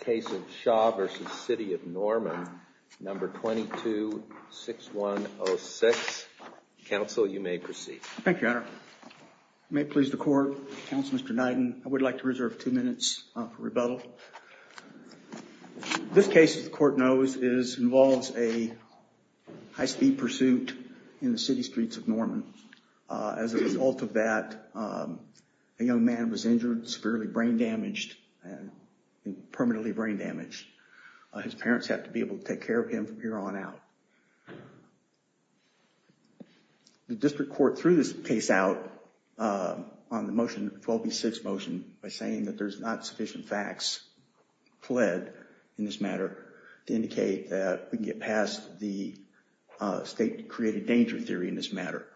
Case of Shaw v. City of Norman, No. 22-6106. Counsel, you may proceed. Thank you, Your Honor. May it please the Court, Counsel Mr. Knighton, I would like to reserve two minutes for rebuttal. This case, as the Court knows, involves a high-speed pursuit in the city streets of Norman. As a result of that, a young man was injured, severely brain-damaged, permanently brain-damaged. His parents had to be able to take care of him from here on out. The District Court threw this case out on the motion, 12 v. 6 motion, by saying that there's not sufficient facts fled in this matter to indicate that we can get past the state-created danger theory in this matter.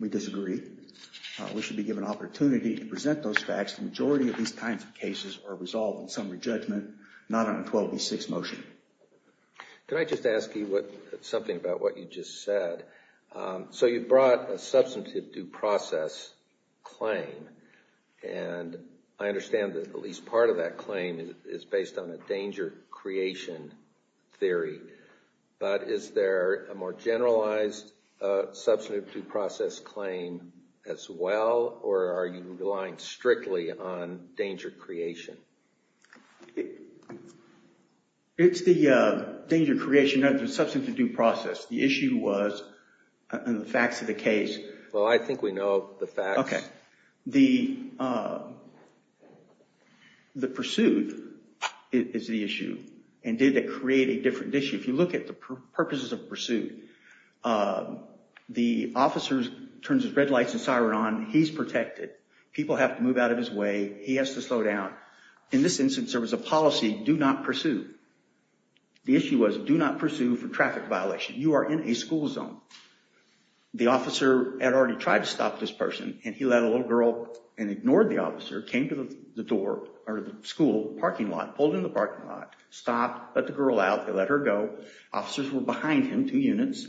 We disagree. We should be given opportunity to present those facts. The majority of these kinds of cases are resolved in summary judgment, not on a 12 v. 6 motion. Can I just ask you something about what you just said? So you brought a substantive due process claim. And I understand that at least part of that claim is based on a danger creation theory. But is there a more generalized substantive due process claim as well? Or are you relying strictly on danger creation? It's the danger creation, not the substantive due process. The issue was in the facts of the case. Well, I think we know the facts. OK. The pursuit is the issue. And did it create a different issue? If you look at the purposes of pursuit, the officer turns his red lights and siren on. He's protected. People have to move out of his way. He has to slow down. In this instance, there was a policy, do not pursue. The issue was, do not pursue for traffic violation. You are in a school zone. The officer had already tried to stop this person. And he let a little girl and ignored the officer, came to the door, or the school parking lot, pulled in the parking lot, stopped, let the girl out. They let her go. Officers were behind him, two units.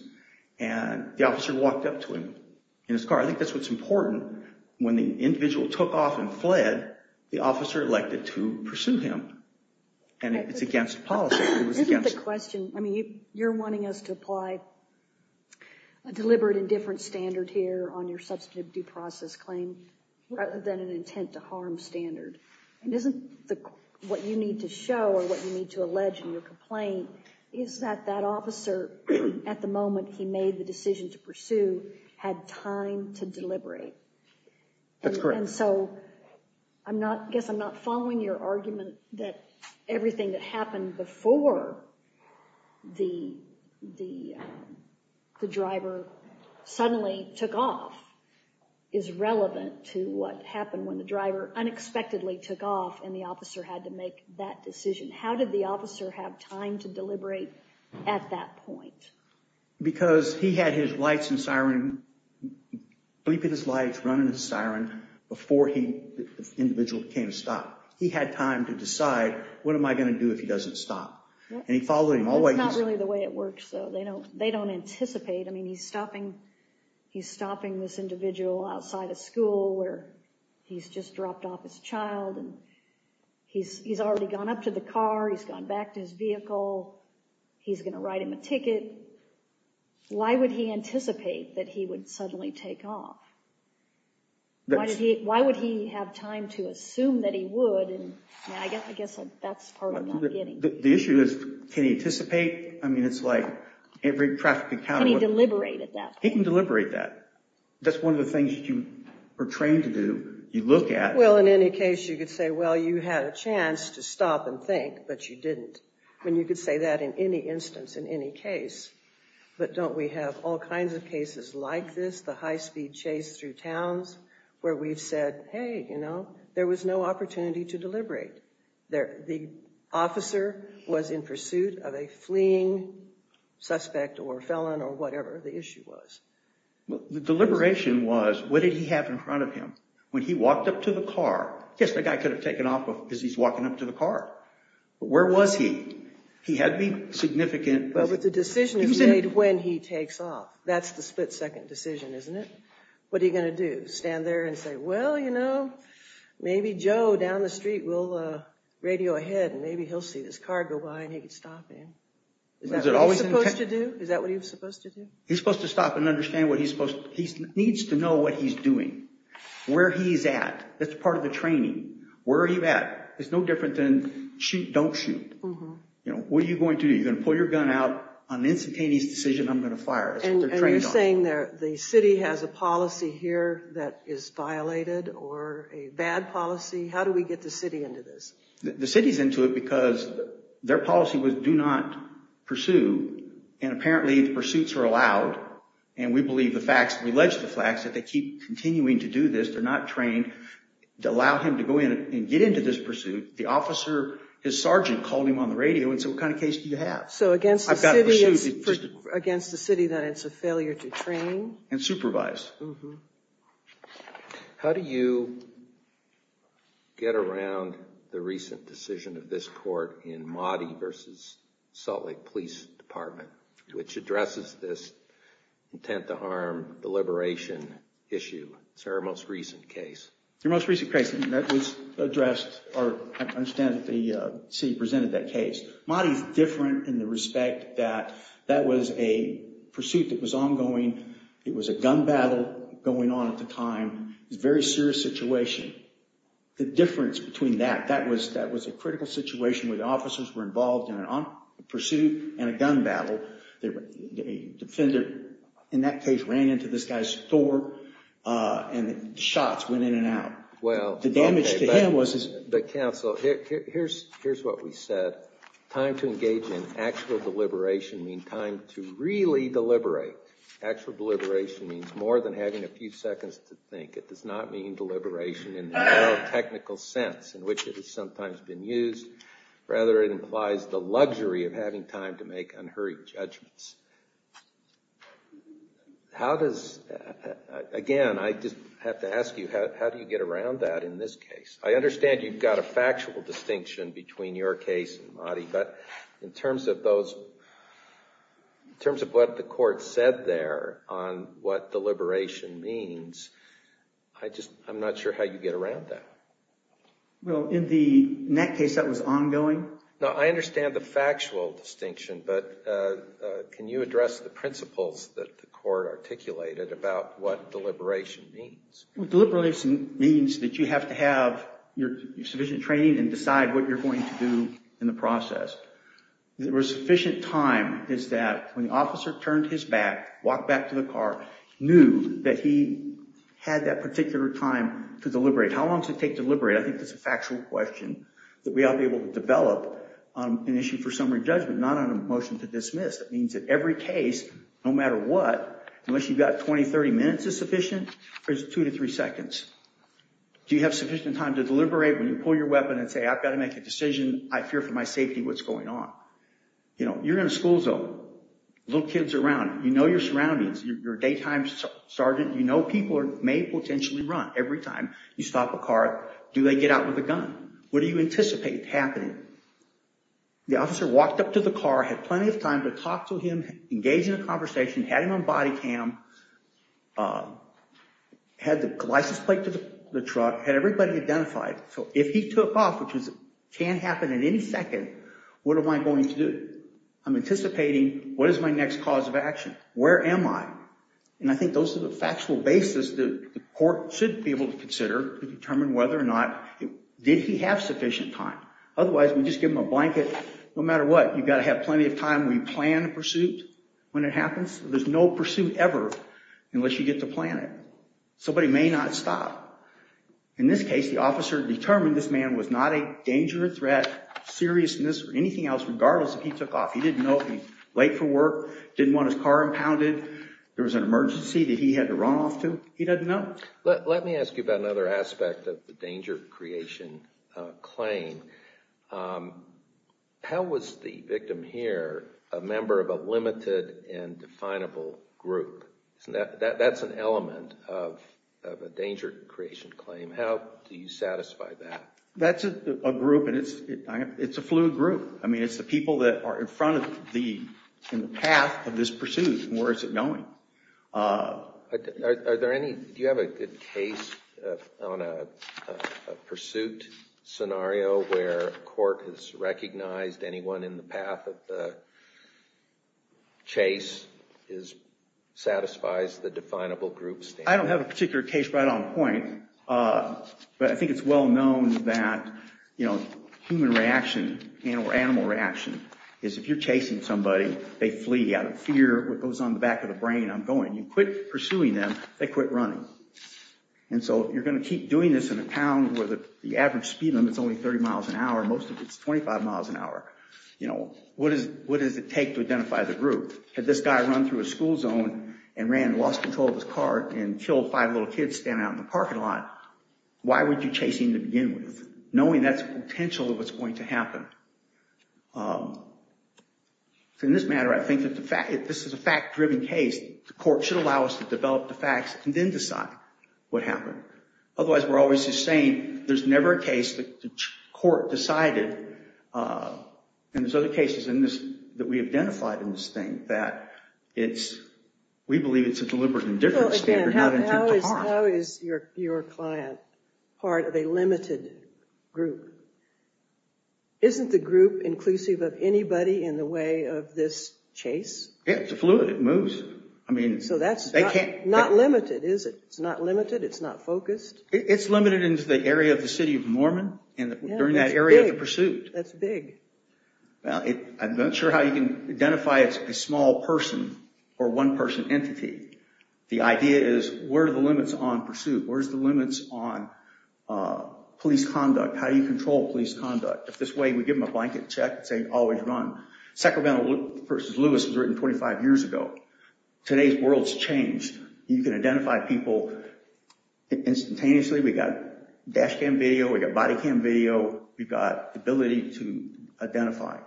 And the officer walked up to him in his car. I think that's what's important. When the individual took off and fled, the officer elected to pursue him. And it's against policy. It was against the question. I mean, you're wanting us to apply a deliberate and different standard here on your substantive due process claim, rather than an intent to harm standard. And isn't what you need to show, or what you need to allege in your complaint, is that that officer, at the moment he made the decision to pursue, had time to deliberate? That's correct. And so I guess I'm not following your argument that everything that happened before the driver suddenly took off is relevant to what happened when the driver unexpectedly took off and the officer had to make that decision. How did the officer have time to deliberate at that point? Because he had his lights and siren, bleeping his lights, running his siren, before the individual came to stop. He had time to decide, what am I going to do if he doesn't stop? And he followed him all the way. That's not really the way it works, though. They don't anticipate. I mean, he's stopping this individual outside a school where he's just dropped off his child. And he's already gone up to the car. He's gone back to his vehicle. He's going to write him a ticket. Why would he anticipate that he would suddenly take off? Why would he have time to assume that he would? And I guess that's part of not getting. The issue is, can he anticipate? I mean, it's like every traffic encounter. Can he deliberate at that point? He can deliberate that. That's one of the things you are trained to do. You look at. Well, in any case, you could say, well, you had a chance to stop and think, but you didn't. And you could say that in any instance, in any case. But don't we have all kinds of cases like this, the high-speed chase through towns, where we've said, hey, there was no opportunity to deliberate. The officer was in pursuit of a fleeing suspect or felon or whatever the issue was. The deliberation was, what did he have in front of him? When he walked up to the car, yes, the guy could have taken off because he's walking up to the car. But where was he? He had to be significant. Well, but the decision is made when he takes off. That's the split-second decision, isn't it? What are you going to do? Stand there and say, well, you know, maybe Joe down the street will radio ahead, and maybe he'll see this car go by, and he can stop him. Is that what he was supposed to do? Is that what he was supposed to do? He's supposed to stop and understand what he's supposed to do. He needs to know what he's doing. Where he's at, that's part of the training. Where are you at? It's no different than shoot, don't shoot. What are you going to do? You're going to pull your gun out. On the instantaneous decision, I'm going to fire. That's what they're trained on. And you're saying the city has a policy here that is violated or a bad policy? How do we get the city into this? The city's into it because their policy was do not pursue. And apparently, the pursuits are allowed. And we believe the facts. If they keep continuing to do this, they're not trained to allow him to go in and get into this pursuit. The officer, his sergeant, called him on the radio and said, what kind of case do you have? So against the city, that it's a failure to train? And supervise. How do you get around the recent decision of this court in Mahdi versus Salt Lake Police Department, which is your most recent case? Your most recent case, and that was addressed, or I understand that the city presented that case. Mahdi is different in the respect that that was a pursuit that was ongoing. It was a gun battle going on at the time. It was a very serious situation. The difference between that, that was a critical situation where the officers were involved in a pursuit and a gun battle. A defender, in that case, ran into this guy's door and the shots went in and out. The damage to him was his. But counsel, here's what we said. Time to engage in actual deliberation means time to really deliberate. Actual deliberation means more than having a few seconds to think. It does not mean deliberation in the neurotechnical sense in which it has sometimes been used. Rather, it implies the luxury of having time to make unhurried judgments. How does, again, I just have to ask you, how do you get around that in this case? I understand you've got a factual distinction between your case and Mahdi. But in terms of what the court said there on what deliberation means, I'm not sure how you get around that. Well, in that case, that was ongoing. Now, I understand the factual distinction. But can you address the principles that the court articulated about what deliberation means? Well, deliberation means that you have to have sufficient training and decide what you're going to do in the process. There was sufficient time is that when the officer turned his back, walked back to the car, knew that he had that particular time to deliberate. How long does it take to deliberate? I think that's a factual question that we ought to be able to develop on an issue for summary judgment, not on a motion to dismiss. That means that every case, no matter what, unless you've got 20, 30 minutes is sufficient, or is it two to three seconds? Do you have sufficient time to deliberate when you pull your weapon and say, I've got to make a decision? I fear for my safety. What's going on? You're in a school zone. Little kids around. You know your surroundings. You're a daytime sergeant. You know people may potentially run every time you stop a car. Do they get out with a gun? What do you anticipate happening? The officer walked up to the car, had plenty of time to talk to him, engage in a conversation, had him on body cam, had the license plate to the truck, had everybody identified. So if he took off, which can happen at any second, what am I going to do? I'm anticipating, what is my next cause of action? Where am I? And I think those are the factual basis that the court should be able to consider to determine whether or not, did he have sufficient time? Otherwise, we just give him a blanket. No matter what, you've got to have plenty of time when you plan a pursuit. When it happens, there's no pursuit ever unless you get to plan it. Somebody may not stop. In this case, the officer determined this man was not a danger or threat, seriousness or anything else, regardless if he took off. He didn't know if he was late for work, didn't want his car impounded. There was an emergency that he had to run off to. He doesn't know. Let me ask you about another aspect of the danger creation claim. How was the victim here a member of a limited and definable group? That's an element of a danger creation claim. How do you satisfy that? That's a group, and it's a fluid group. I mean, it's the people that are in front of the path of this pursuit, and where is it going? Do you have a good case on a pursuit scenario where a court has recognized anyone in the path of the chase satisfies the definable group standard? I don't have a particular case right on point, but I think it's well known that human reaction or animal reaction is if you're chasing somebody, they flee out of fear. What goes on the back of the brain, I'm going. You quit pursuing them, they quit running. And so you're going to keep doing this in a town where the average speed limit's only 30 miles an hour. Most of it's 25 miles an hour. What does it take to identify the group? Had this guy run through a school zone and ran, lost control of his car, and killed five little kids standing out in the parking lot, why would you chase him to begin with, knowing that's the potential of what's going to happen? So in this matter, I think that this is a fact-driven case. The court should allow us to develop the facts and then decide what happened. Otherwise, we're always just saying, there's never a case that the court decided, and there's other cases that we identified in this thing, that we believe it's a deliberate indifference standard not intended to harm. How is your client part of a limited group? Isn't the group inclusive of anybody in the way of this chase? Yeah, it's a fluid, it moves. So that's not limited, is it? It's not limited, it's not focused? It's limited into the area of the city of Norman and during that area of the pursuit. That's big. Well, I'm not sure how you can identify it's a small person or one person entity. The idea is, where are the limits on pursuit? Where's the limits on police conduct? How do you control police conduct? If this way, we give them a blanket check and say, always run. Sacramento v. Lewis was written 25 years ago. Today's world's changed. You can identify people instantaneously. We got dash cam video, we got body cam video, we've got ability to identify.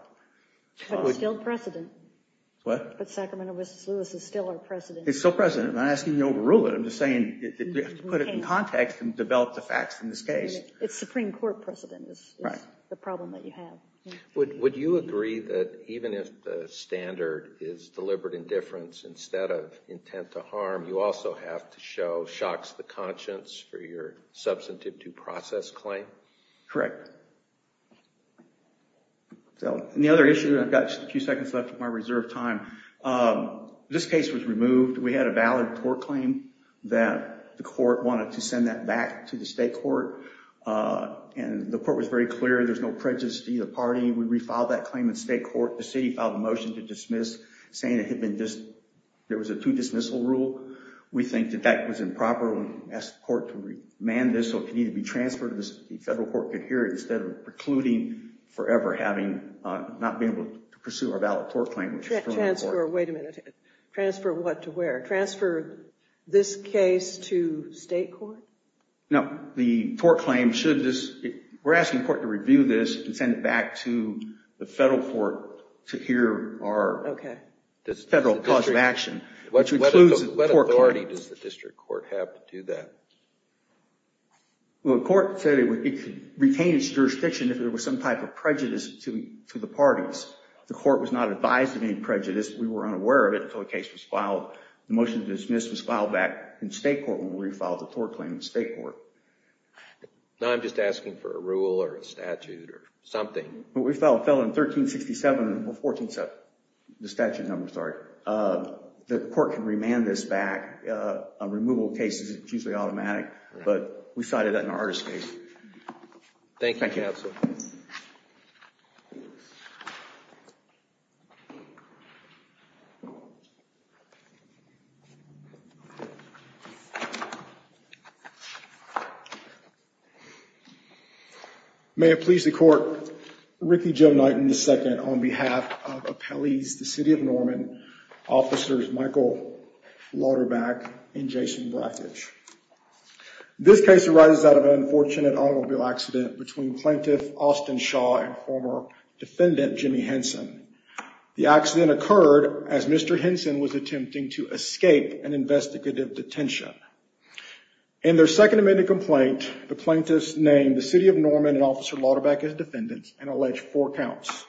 But it's still precedent. What? But Sacramento v. Lewis is still our precedent. It's still precedent. I'm not asking you to overrule it. I'm just saying that we have to put it in context and develop the facts in this case. It's Supreme Court precedent is the problem that you have. Would you agree that even if the standard is deliberate indifference instead of intent to harm, you also have to show shocks to the conscience for your substantive due process claim? Correct. So the other issue, I've got a few seconds left of my reserve time. This case was removed. We had a valid tort claim that the court wanted to send that back to the state court. And the court was very clear. There's no prejudice to either party. We refiled that claim in state court. The city filed a motion to dismiss, saying there was a two dismissal rule. We think that that was improper. We asked the court to remand this. So it could either be transferred to the federal court coherence, instead of precluding forever having not been able to pursue our valid tort claim. Wait a minute. Transfer what to where? Transfer this case to state court? No, the tort claim should just, we're asking the court to review this and send it back to the federal court to hear our federal cause of action. What authority does the district court have to do that? Well, the court said it could retain its jurisdiction if there was some type of prejudice to the parties. The court was not advised of any prejudice. We were unaware of it until the case was filed. The motion to dismiss was filed back in state court when we refiled the tort claim in state court. Now I'm just asking for a rule or a statute or something. What we filed fell in 1367, or 147, the statute number, sorry. The court can remand this back. A removal case is usually automatic. But we cited that in our artist case. Thank you, counsel. Thank you. May it please the court, Ricky Joe Knighton II on behalf of Appellees, the City of Norman, officers Michael Lauderback and Jason Brackage. This case arises out of an unfortunate automobile accident between plaintiff Austin Shaw and former defendant Jimmy Henson. The accident occurred as Mr. Henson was attempting to escape an investigative detention. In their second amended complaint, the plaintiffs named the City of Norman and Officer Lauderback as defendants and alleged four counts.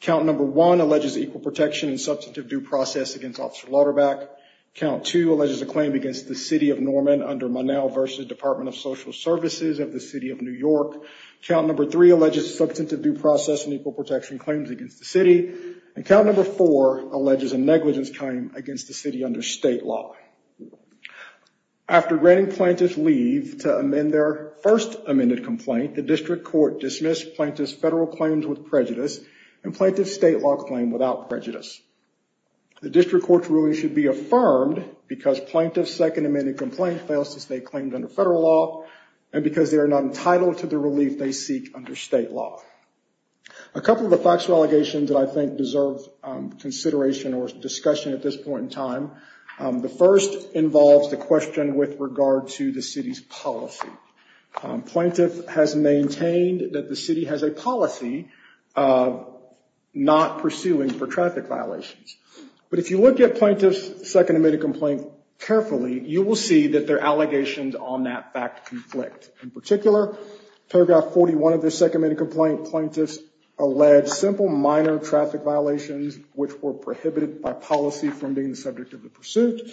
Count number one alleges equal protection and substantive due process against Officer Lauderback. Count two alleges a claim against the City of Norman under Monal versus Department of Social Services of the City of New York. Count number three alleges substantive due process and equal protection claims against the city. Count number four alleges a negligence claim against the city under state law. After granting plaintiffs leave to amend their first amended complaint, the district court dismissed plaintiff's federal claims with prejudice and plaintiff's state law claim without prejudice. The district court's ruling should be affirmed because plaintiff's second amended complaint fails to stay claimed under federal law and because they are not entitled to the relief they seek under state law. A couple of the facts or allegations that I think deserve consideration or discussion at this point in time. The first involves the question with regard to the city's policy. Plaintiff has maintained that the city has a policy not pursuing for traffic violations. But if you look at plaintiff's second amended complaint carefully, you will see that their allegations on that fact conflict. In particular, paragraph 41 of their second amended complaint alleges simple minor traffic violations which were prohibited by policy from being the subject of the pursuit.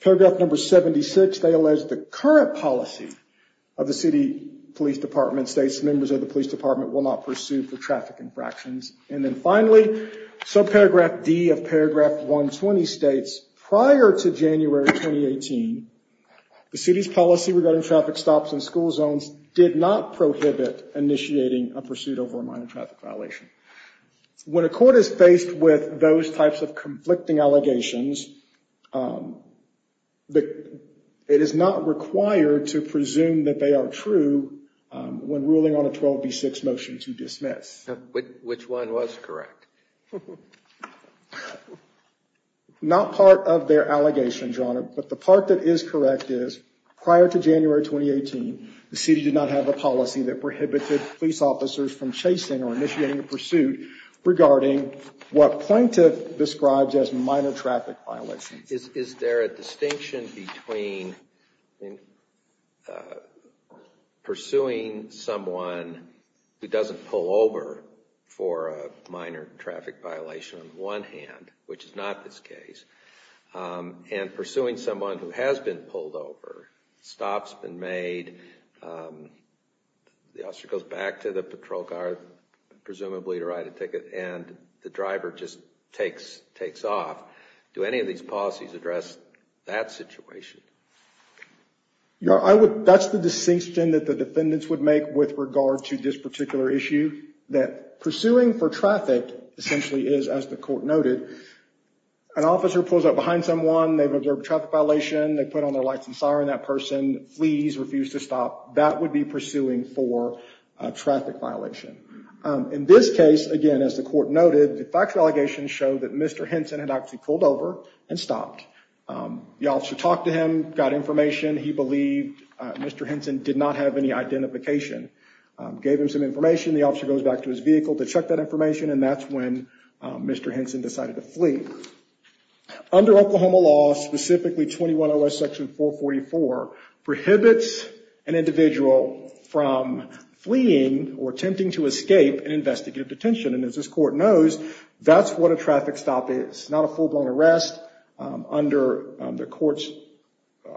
Paragraph number 76, they allege the current policy of the city police department states members of the police department will not pursue for traffic infractions. And then finally, subparagraph D of paragraph 120 states prior to January 2018, the city's policy regarding traffic stops in school zones did not prohibit initiating a pursuit over a minor traffic violation. When a court is faced with those types of conflicting allegations, it is not required to presume that they are true when ruling on a 12B6 motion to dismiss. Which one was correct? Not part of their allegations, Your Honor, but the part that is correct is prior to January 2018, the city did not have a policy that prohibited police officers from chasing or initiating a pursuit regarding what plaintiff describes as minor traffic violations. Is there a distinction between pursuing someone who doesn't pull over for a minor traffic violation on the one hand, which is not this case, and pursuing someone who has been pulled over, stops been made, the officer goes back to the patrol car, presumably to write a ticket, and the driver just takes off? Do any of these policies address that situation? That's the distinction that the defendants would make with regard to this particular issue, that pursuing for traffic essentially is, as the court noted, an officer pulls up behind someone, they've observed a traffic violation, they put on their lights and siren, that person flees, refused to stop, that would be pursuing for a traffic violation. In this case, again, as the court noted, the factual allegations show that Mr. Henson had actually pulled over and stopped. The officer talked to him, got information, he believed Mr. Henson did not have any identification. Gave him some information, the officer goes back and that's when Mr. Henson decided to flee. Under Oklahoma law, specifically 210S section 444, prohibits an individual from fleeing or attempting to escape an investigative detention. And as this court knows, that's what a traffic stop is. Not a full-blown arrest. Under the court's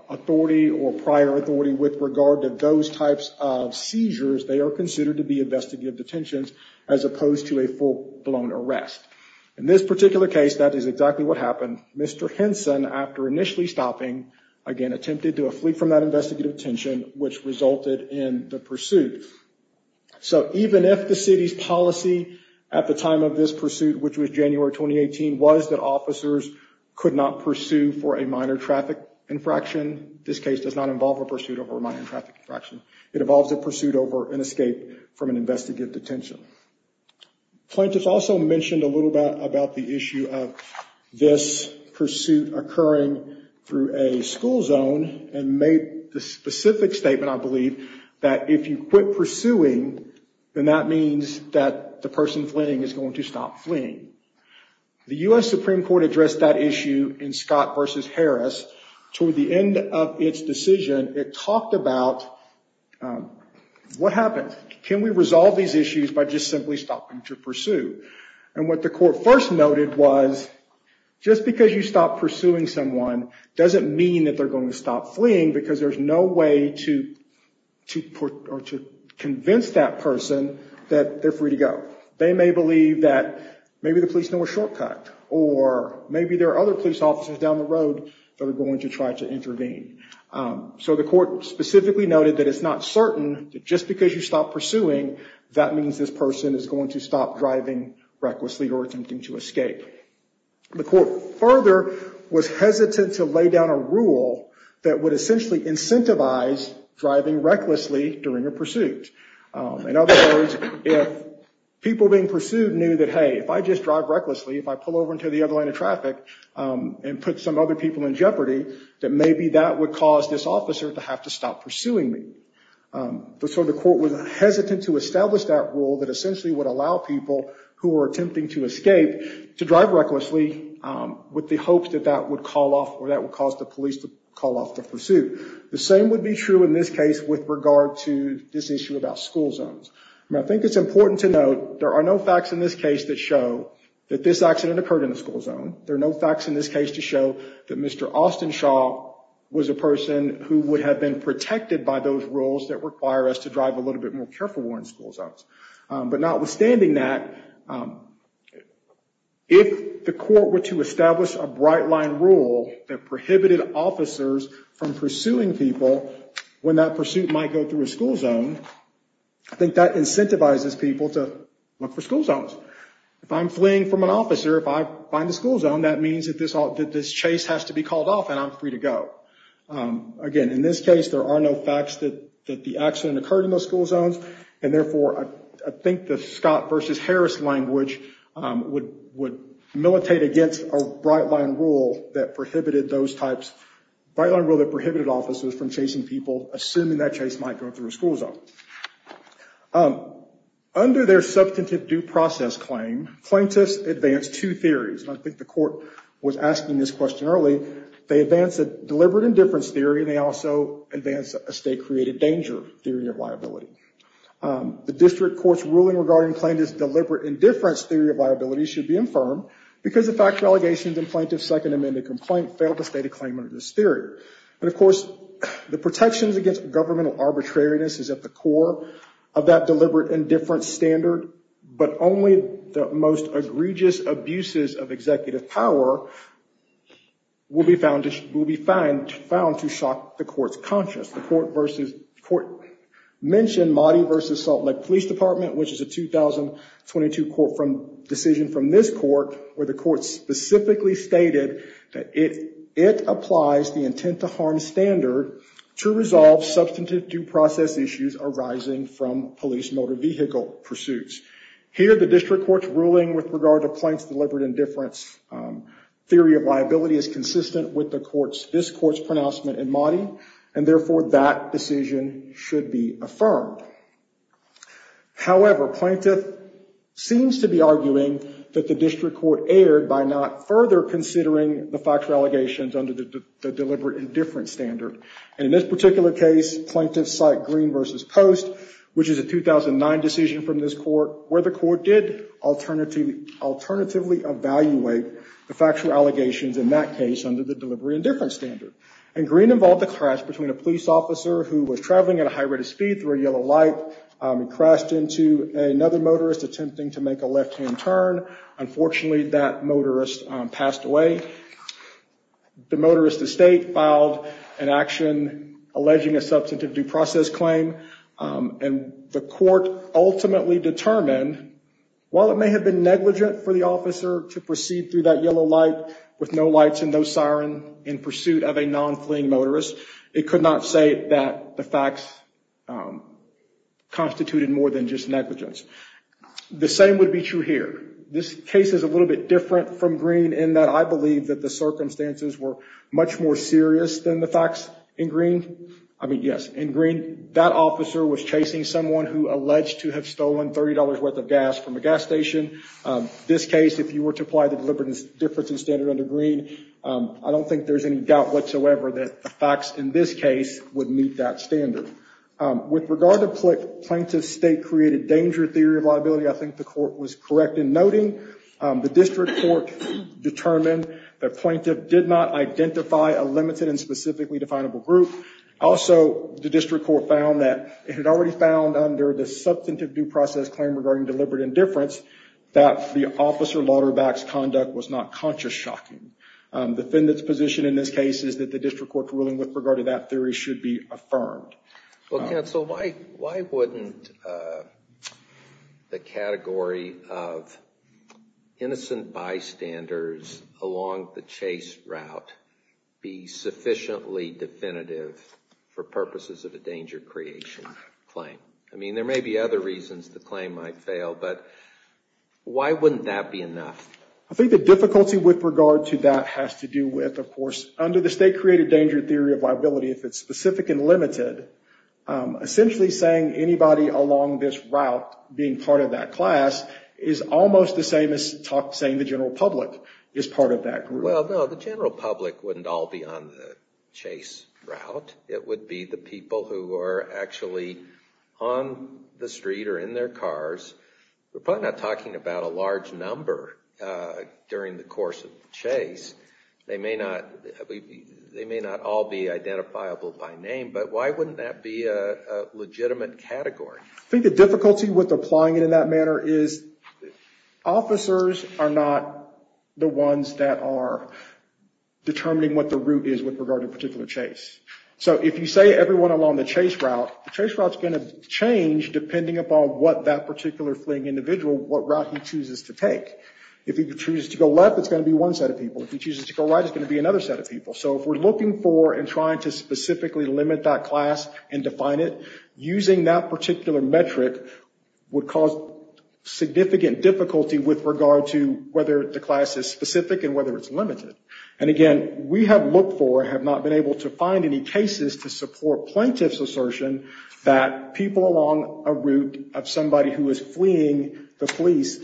authority or prior authority with regard to those types of seizures, they are considered to be investigative detentions as opposed to a full-blown arrest. In this particular case, that is exactly what happened. Mr. Henson, after initially stopping, again, attempted to flee from that investigative detention, which resulted in the pursuit. So even if the city's policy at the time of this pursuit, which was January 2018, was that officers could not pursue for a minor traffic infraction, this case does not involve a pursuit over a minor traffic infraction. It involves a pursuit over an escape from an investigative detention. Plaintiffs also mentioned a little bit about the issue of this pursuit occurring through a school zone and made the specific statement, I believe, that if you quit pursuing, then that means that the person fleeing is going to stop fleeing. The US Supreme Court addressed that issue in Scott versus Harris. Toward the end of its decision, it talked about what happens. Can we resolve these issues by just simply stopping to pursue? And what the court first noted was, just because you stop pursuing someone doesn't mean that they're going to stop fleeing, because there's no way to convince that person that they're free to go. They may believe that maybe the police know a shortcut, or maybe there are other police officers down the road that are going to try to intervene. So the court specifically noted that it's not certain that just because you stop pursuing, that means this person is going to stop driving recklessly or attempting to escape. The court further was hesitant to lay down a rule that would essentially incentivize driving recklessly during a pursuit. In other words, if people being pursued knew that, hey, if I just drive recklessly, if I pull over into the other line of traffic and put some other people in jeopardy, that maybe that would cause this officer to have to stop pursuing me. So the court was hesitant to establish that rule that essentially would allow people who are attempting to escape to drive recklessly with the hope that that would cause the police to call off the pursuit. The same would be true in this case with regard to this issue about school zones. I think it's important to note, there are no facts in this case that show that this accident occurred in a school zone. There are no facts in this case to show that Mr. Austenshaw was a person who would have been protected by those rules that require us to drive a little bit more carefully in school zones. But notwithstanding that, if the court were to establish a bright line rule that prohibited officers from pursuing people when that pursuit might go through a school zone, I think that incentivizes people to look for school zones. If I'm fleeing from an officer, if I find a school zone, that means that this chase has to be called off and I'm free to go. Again, in this case, there are no facts that the accident occurred in those school zones. And therefore, I think the Scott versus Harris language would militate against a bright line rule that prohibited those types of officers from chasing people, assuming that chase might go through a school zone. Under their substantive due process claim, plaintiffs advanced two theories. And I think the court was asking this question early. They advanced a deliberate indifference theory, and they also advanced a state-created danger theory of liability. The district court's ruling regarding plaintiff's deliberate indifference theory of liability should be infirm, because the fact of allegations in plaintiff's second amended complaint failed to state a claimant of this theory. And of course, the protections against governmental arbitrariness is at the core of that deliberate indifference standard, but only the most egregious abuses of executive power will be found to shock the court's conscience. The court mentioned Mahdi versus Salt Lake Police Department, which is a 2022 decision from this court, where the court specifically stated that it applies the intent to harm standard to resolve substantive due process issues arising from police motor vehicle pursuits. Here, the district court's ruling with regard to plaintiff's deliberate indifference theory of liability is consistent with this court's pronouncement in Mahdi. And therefore, that decision should be affirmed. However, plaintiff seems to be arguing that the district court erred by not further considering the fact of allegations under the deliberate indifference standard. In this particular case, plaintiffs cite Green versus Post, which is a 2009 decision from this court, where the court did alternatively evaluate the factual allegations in that case under the deliberate indifference standard. And Green involved a crash between a police officer who was traveling at a high rate of speed through a yellow light. He crashed into another motorist attempting to make a left-hand turn. Unfortunately, that motorist passed away. The motorist estate filed an action alleging a substantive due process claim. And the court ultimately determined, while it may have been negligent for the officer to proceed through that yellow light with no lights and no siren in pursuit of a non-fleeing motorist, it could not say that the facts constituted more than just negligence. The same would be true here. This case is a little bit different from Green in that I believe that the circumstances were much more serious than the facts in Green. I mean, yes, in Green, that officer was chasing someone who alleged to have stolen $30 worth of gas from a gas station. This case, if you were to apply the deliberate indifference standard under Green, I don't think there's any doubt whatsoever that the facts in this case would meet that standard. With regard to plaintiff's state-created danger theory of liability, I think the court was correct in noting the district court determined the plaintiff did not identify a limited and specifically definable group. Also, the district court found that it had already found under the substantive due process claim regarding deliberate indifference that the officer lauderback's conduct was not conscious-shocking. Defendant's position in this case is that the district court's ruling with regard to that theory should be affirmed. Well, counsel, why wouldn't the category of innocent bystanders along the chase route be sufficiently definitive for purposes of a danger creation claim? I mean, there may be other reasons the claim might fail, but why wouldn't that be enough? I think the difficulty with regard to that has to do with, of course, under the state-created danger theory of liability, if it's specific and limited, essentially saying anybody along this route being part of that class is almost the same as saying the general public is part of that group. Well, no. The general public wouldn't all be on the chase route. It would be the people who are actually on the street or in their cars. We're probably not talking about a large number during the course of the chase. They may not all be identifiable by name, but why wouldn't that be a legitimate category? I think the difficulty with applying it in that manner is officers are not the ones that are determining what the route is with regard to a particular chase. So if you say everyone along the chase route, the chase route's going to change depending upon what that particular fleeing individual, what route he chooses to take. If he chooses to go left, it's going to be one set of people. If he chooses to go right, it's going to be another set of people. So if we're looking for and trying to specifically limit that class and define it, using that particular metric would cause significant difficulty with regard to whether the class is specific and whether it's limited. And again, we have looked for, have not been able to find any cases to support plaintiff's assertion that people along a route of somebody who is fleeing the police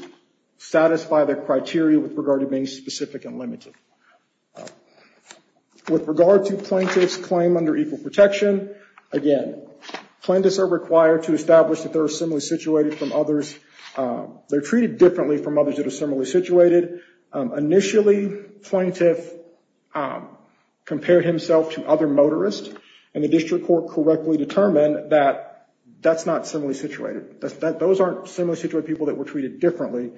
satisfy the criteria with regard to being specific and limited. With regard to plaintiff's claim under equal protection, again, plaintiffs are required to establish that they're treated differently from others that are similarly situated. Initially, plaintiff compared himself to other motorists, and the district court correctly determined that that's not similarly situated. Those aren't similarly situated people that were treated differently.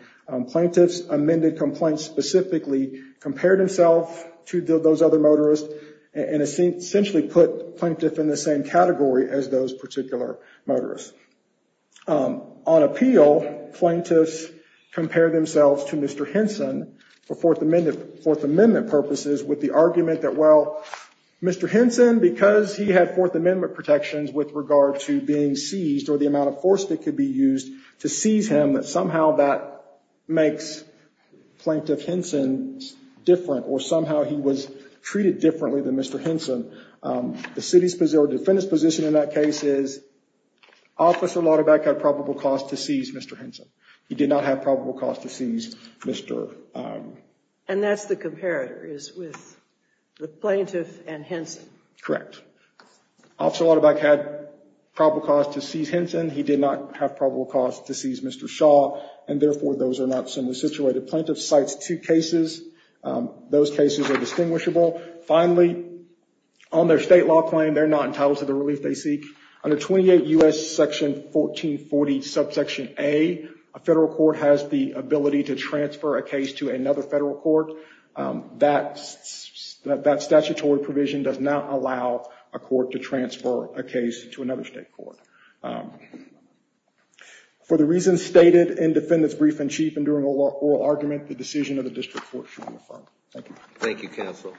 Plaintiffs amended complaints specifically, compared himself to those other motorists, and essentially put plaintiff in the same category as those particular motorists. On appeal, plaintiffs compare themselves to Mr. Henson for Fourth Amendment purposes with the argument that, well, Mr. Henson, because he had Fourth Amendment protections with regard to being seized or the amount of force that could be used to seize him, that somehow that makes plaintiff Henson different, or somehow he was treated differently than Mr. Henson. The city's position or defendant's position in that case is, Officer Lutterbeck had probable cause to seize Mr. Henson. He did not have probable cause to seize Mr. Henson. And that's the comparator, is with the plaintiff and Henson. Correct. Officer Lutterbeck had probable cause to seize Henson. He did not have probable cause to seize Mr. Shaw. And therefore, those are not similarly situated. Plaintiff cites two cases. Those cases are distinguishable. Finally, on their state law claim, they're not entitled to the relief they seek. Under 28 U.S. Section 1440, subsection A, a federal court has the ability to transfer a case to another federal court. That statutory provision does not exist. For the reasons stated in Defendant's Brief-in-Chief and during oral argument, the decision of the district court shall be affirmed. Thank you. Thank you, counsel.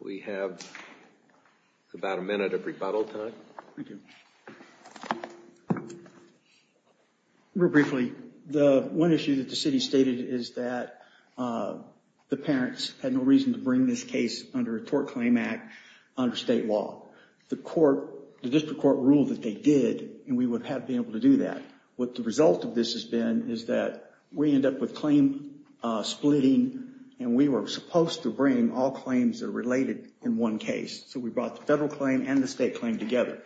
We have about a minute of rebuttal time. Thank you. Real briefly, the one issue that the city stated is that the parents had no reason to bring this case under a tort claim act under state law. The court, the district court ruled that they did, and we would have been able to do that. What the result of this has been is that we end up with claim splitting, and we were supposed to bring all claims that are related in one case. So we brought the federal claim and the state claim together.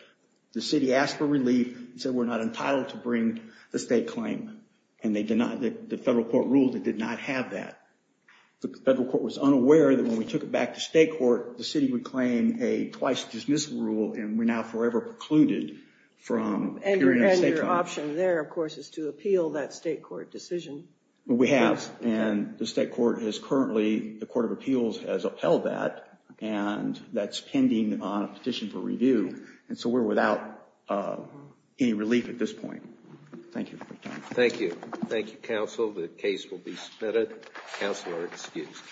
The city asked for relief and said we're not entitled to bring the state claim. And the federal court ruled it did not have that. The federal court was unaware that when we took it back to state court, the city would claim a twice dismissal rule, and we're now forever precluded from appearing in a state court. And your option there, of course, is to appeal that state court decision. We have, and the state court has currently, the court of appeals has upheld that, and that's pending on a petition for review. And so we're without any relief at this point. Thank you for your time. Thank you. Thank you, counsel. The case will be submitted. Counsel are excused. Thank you.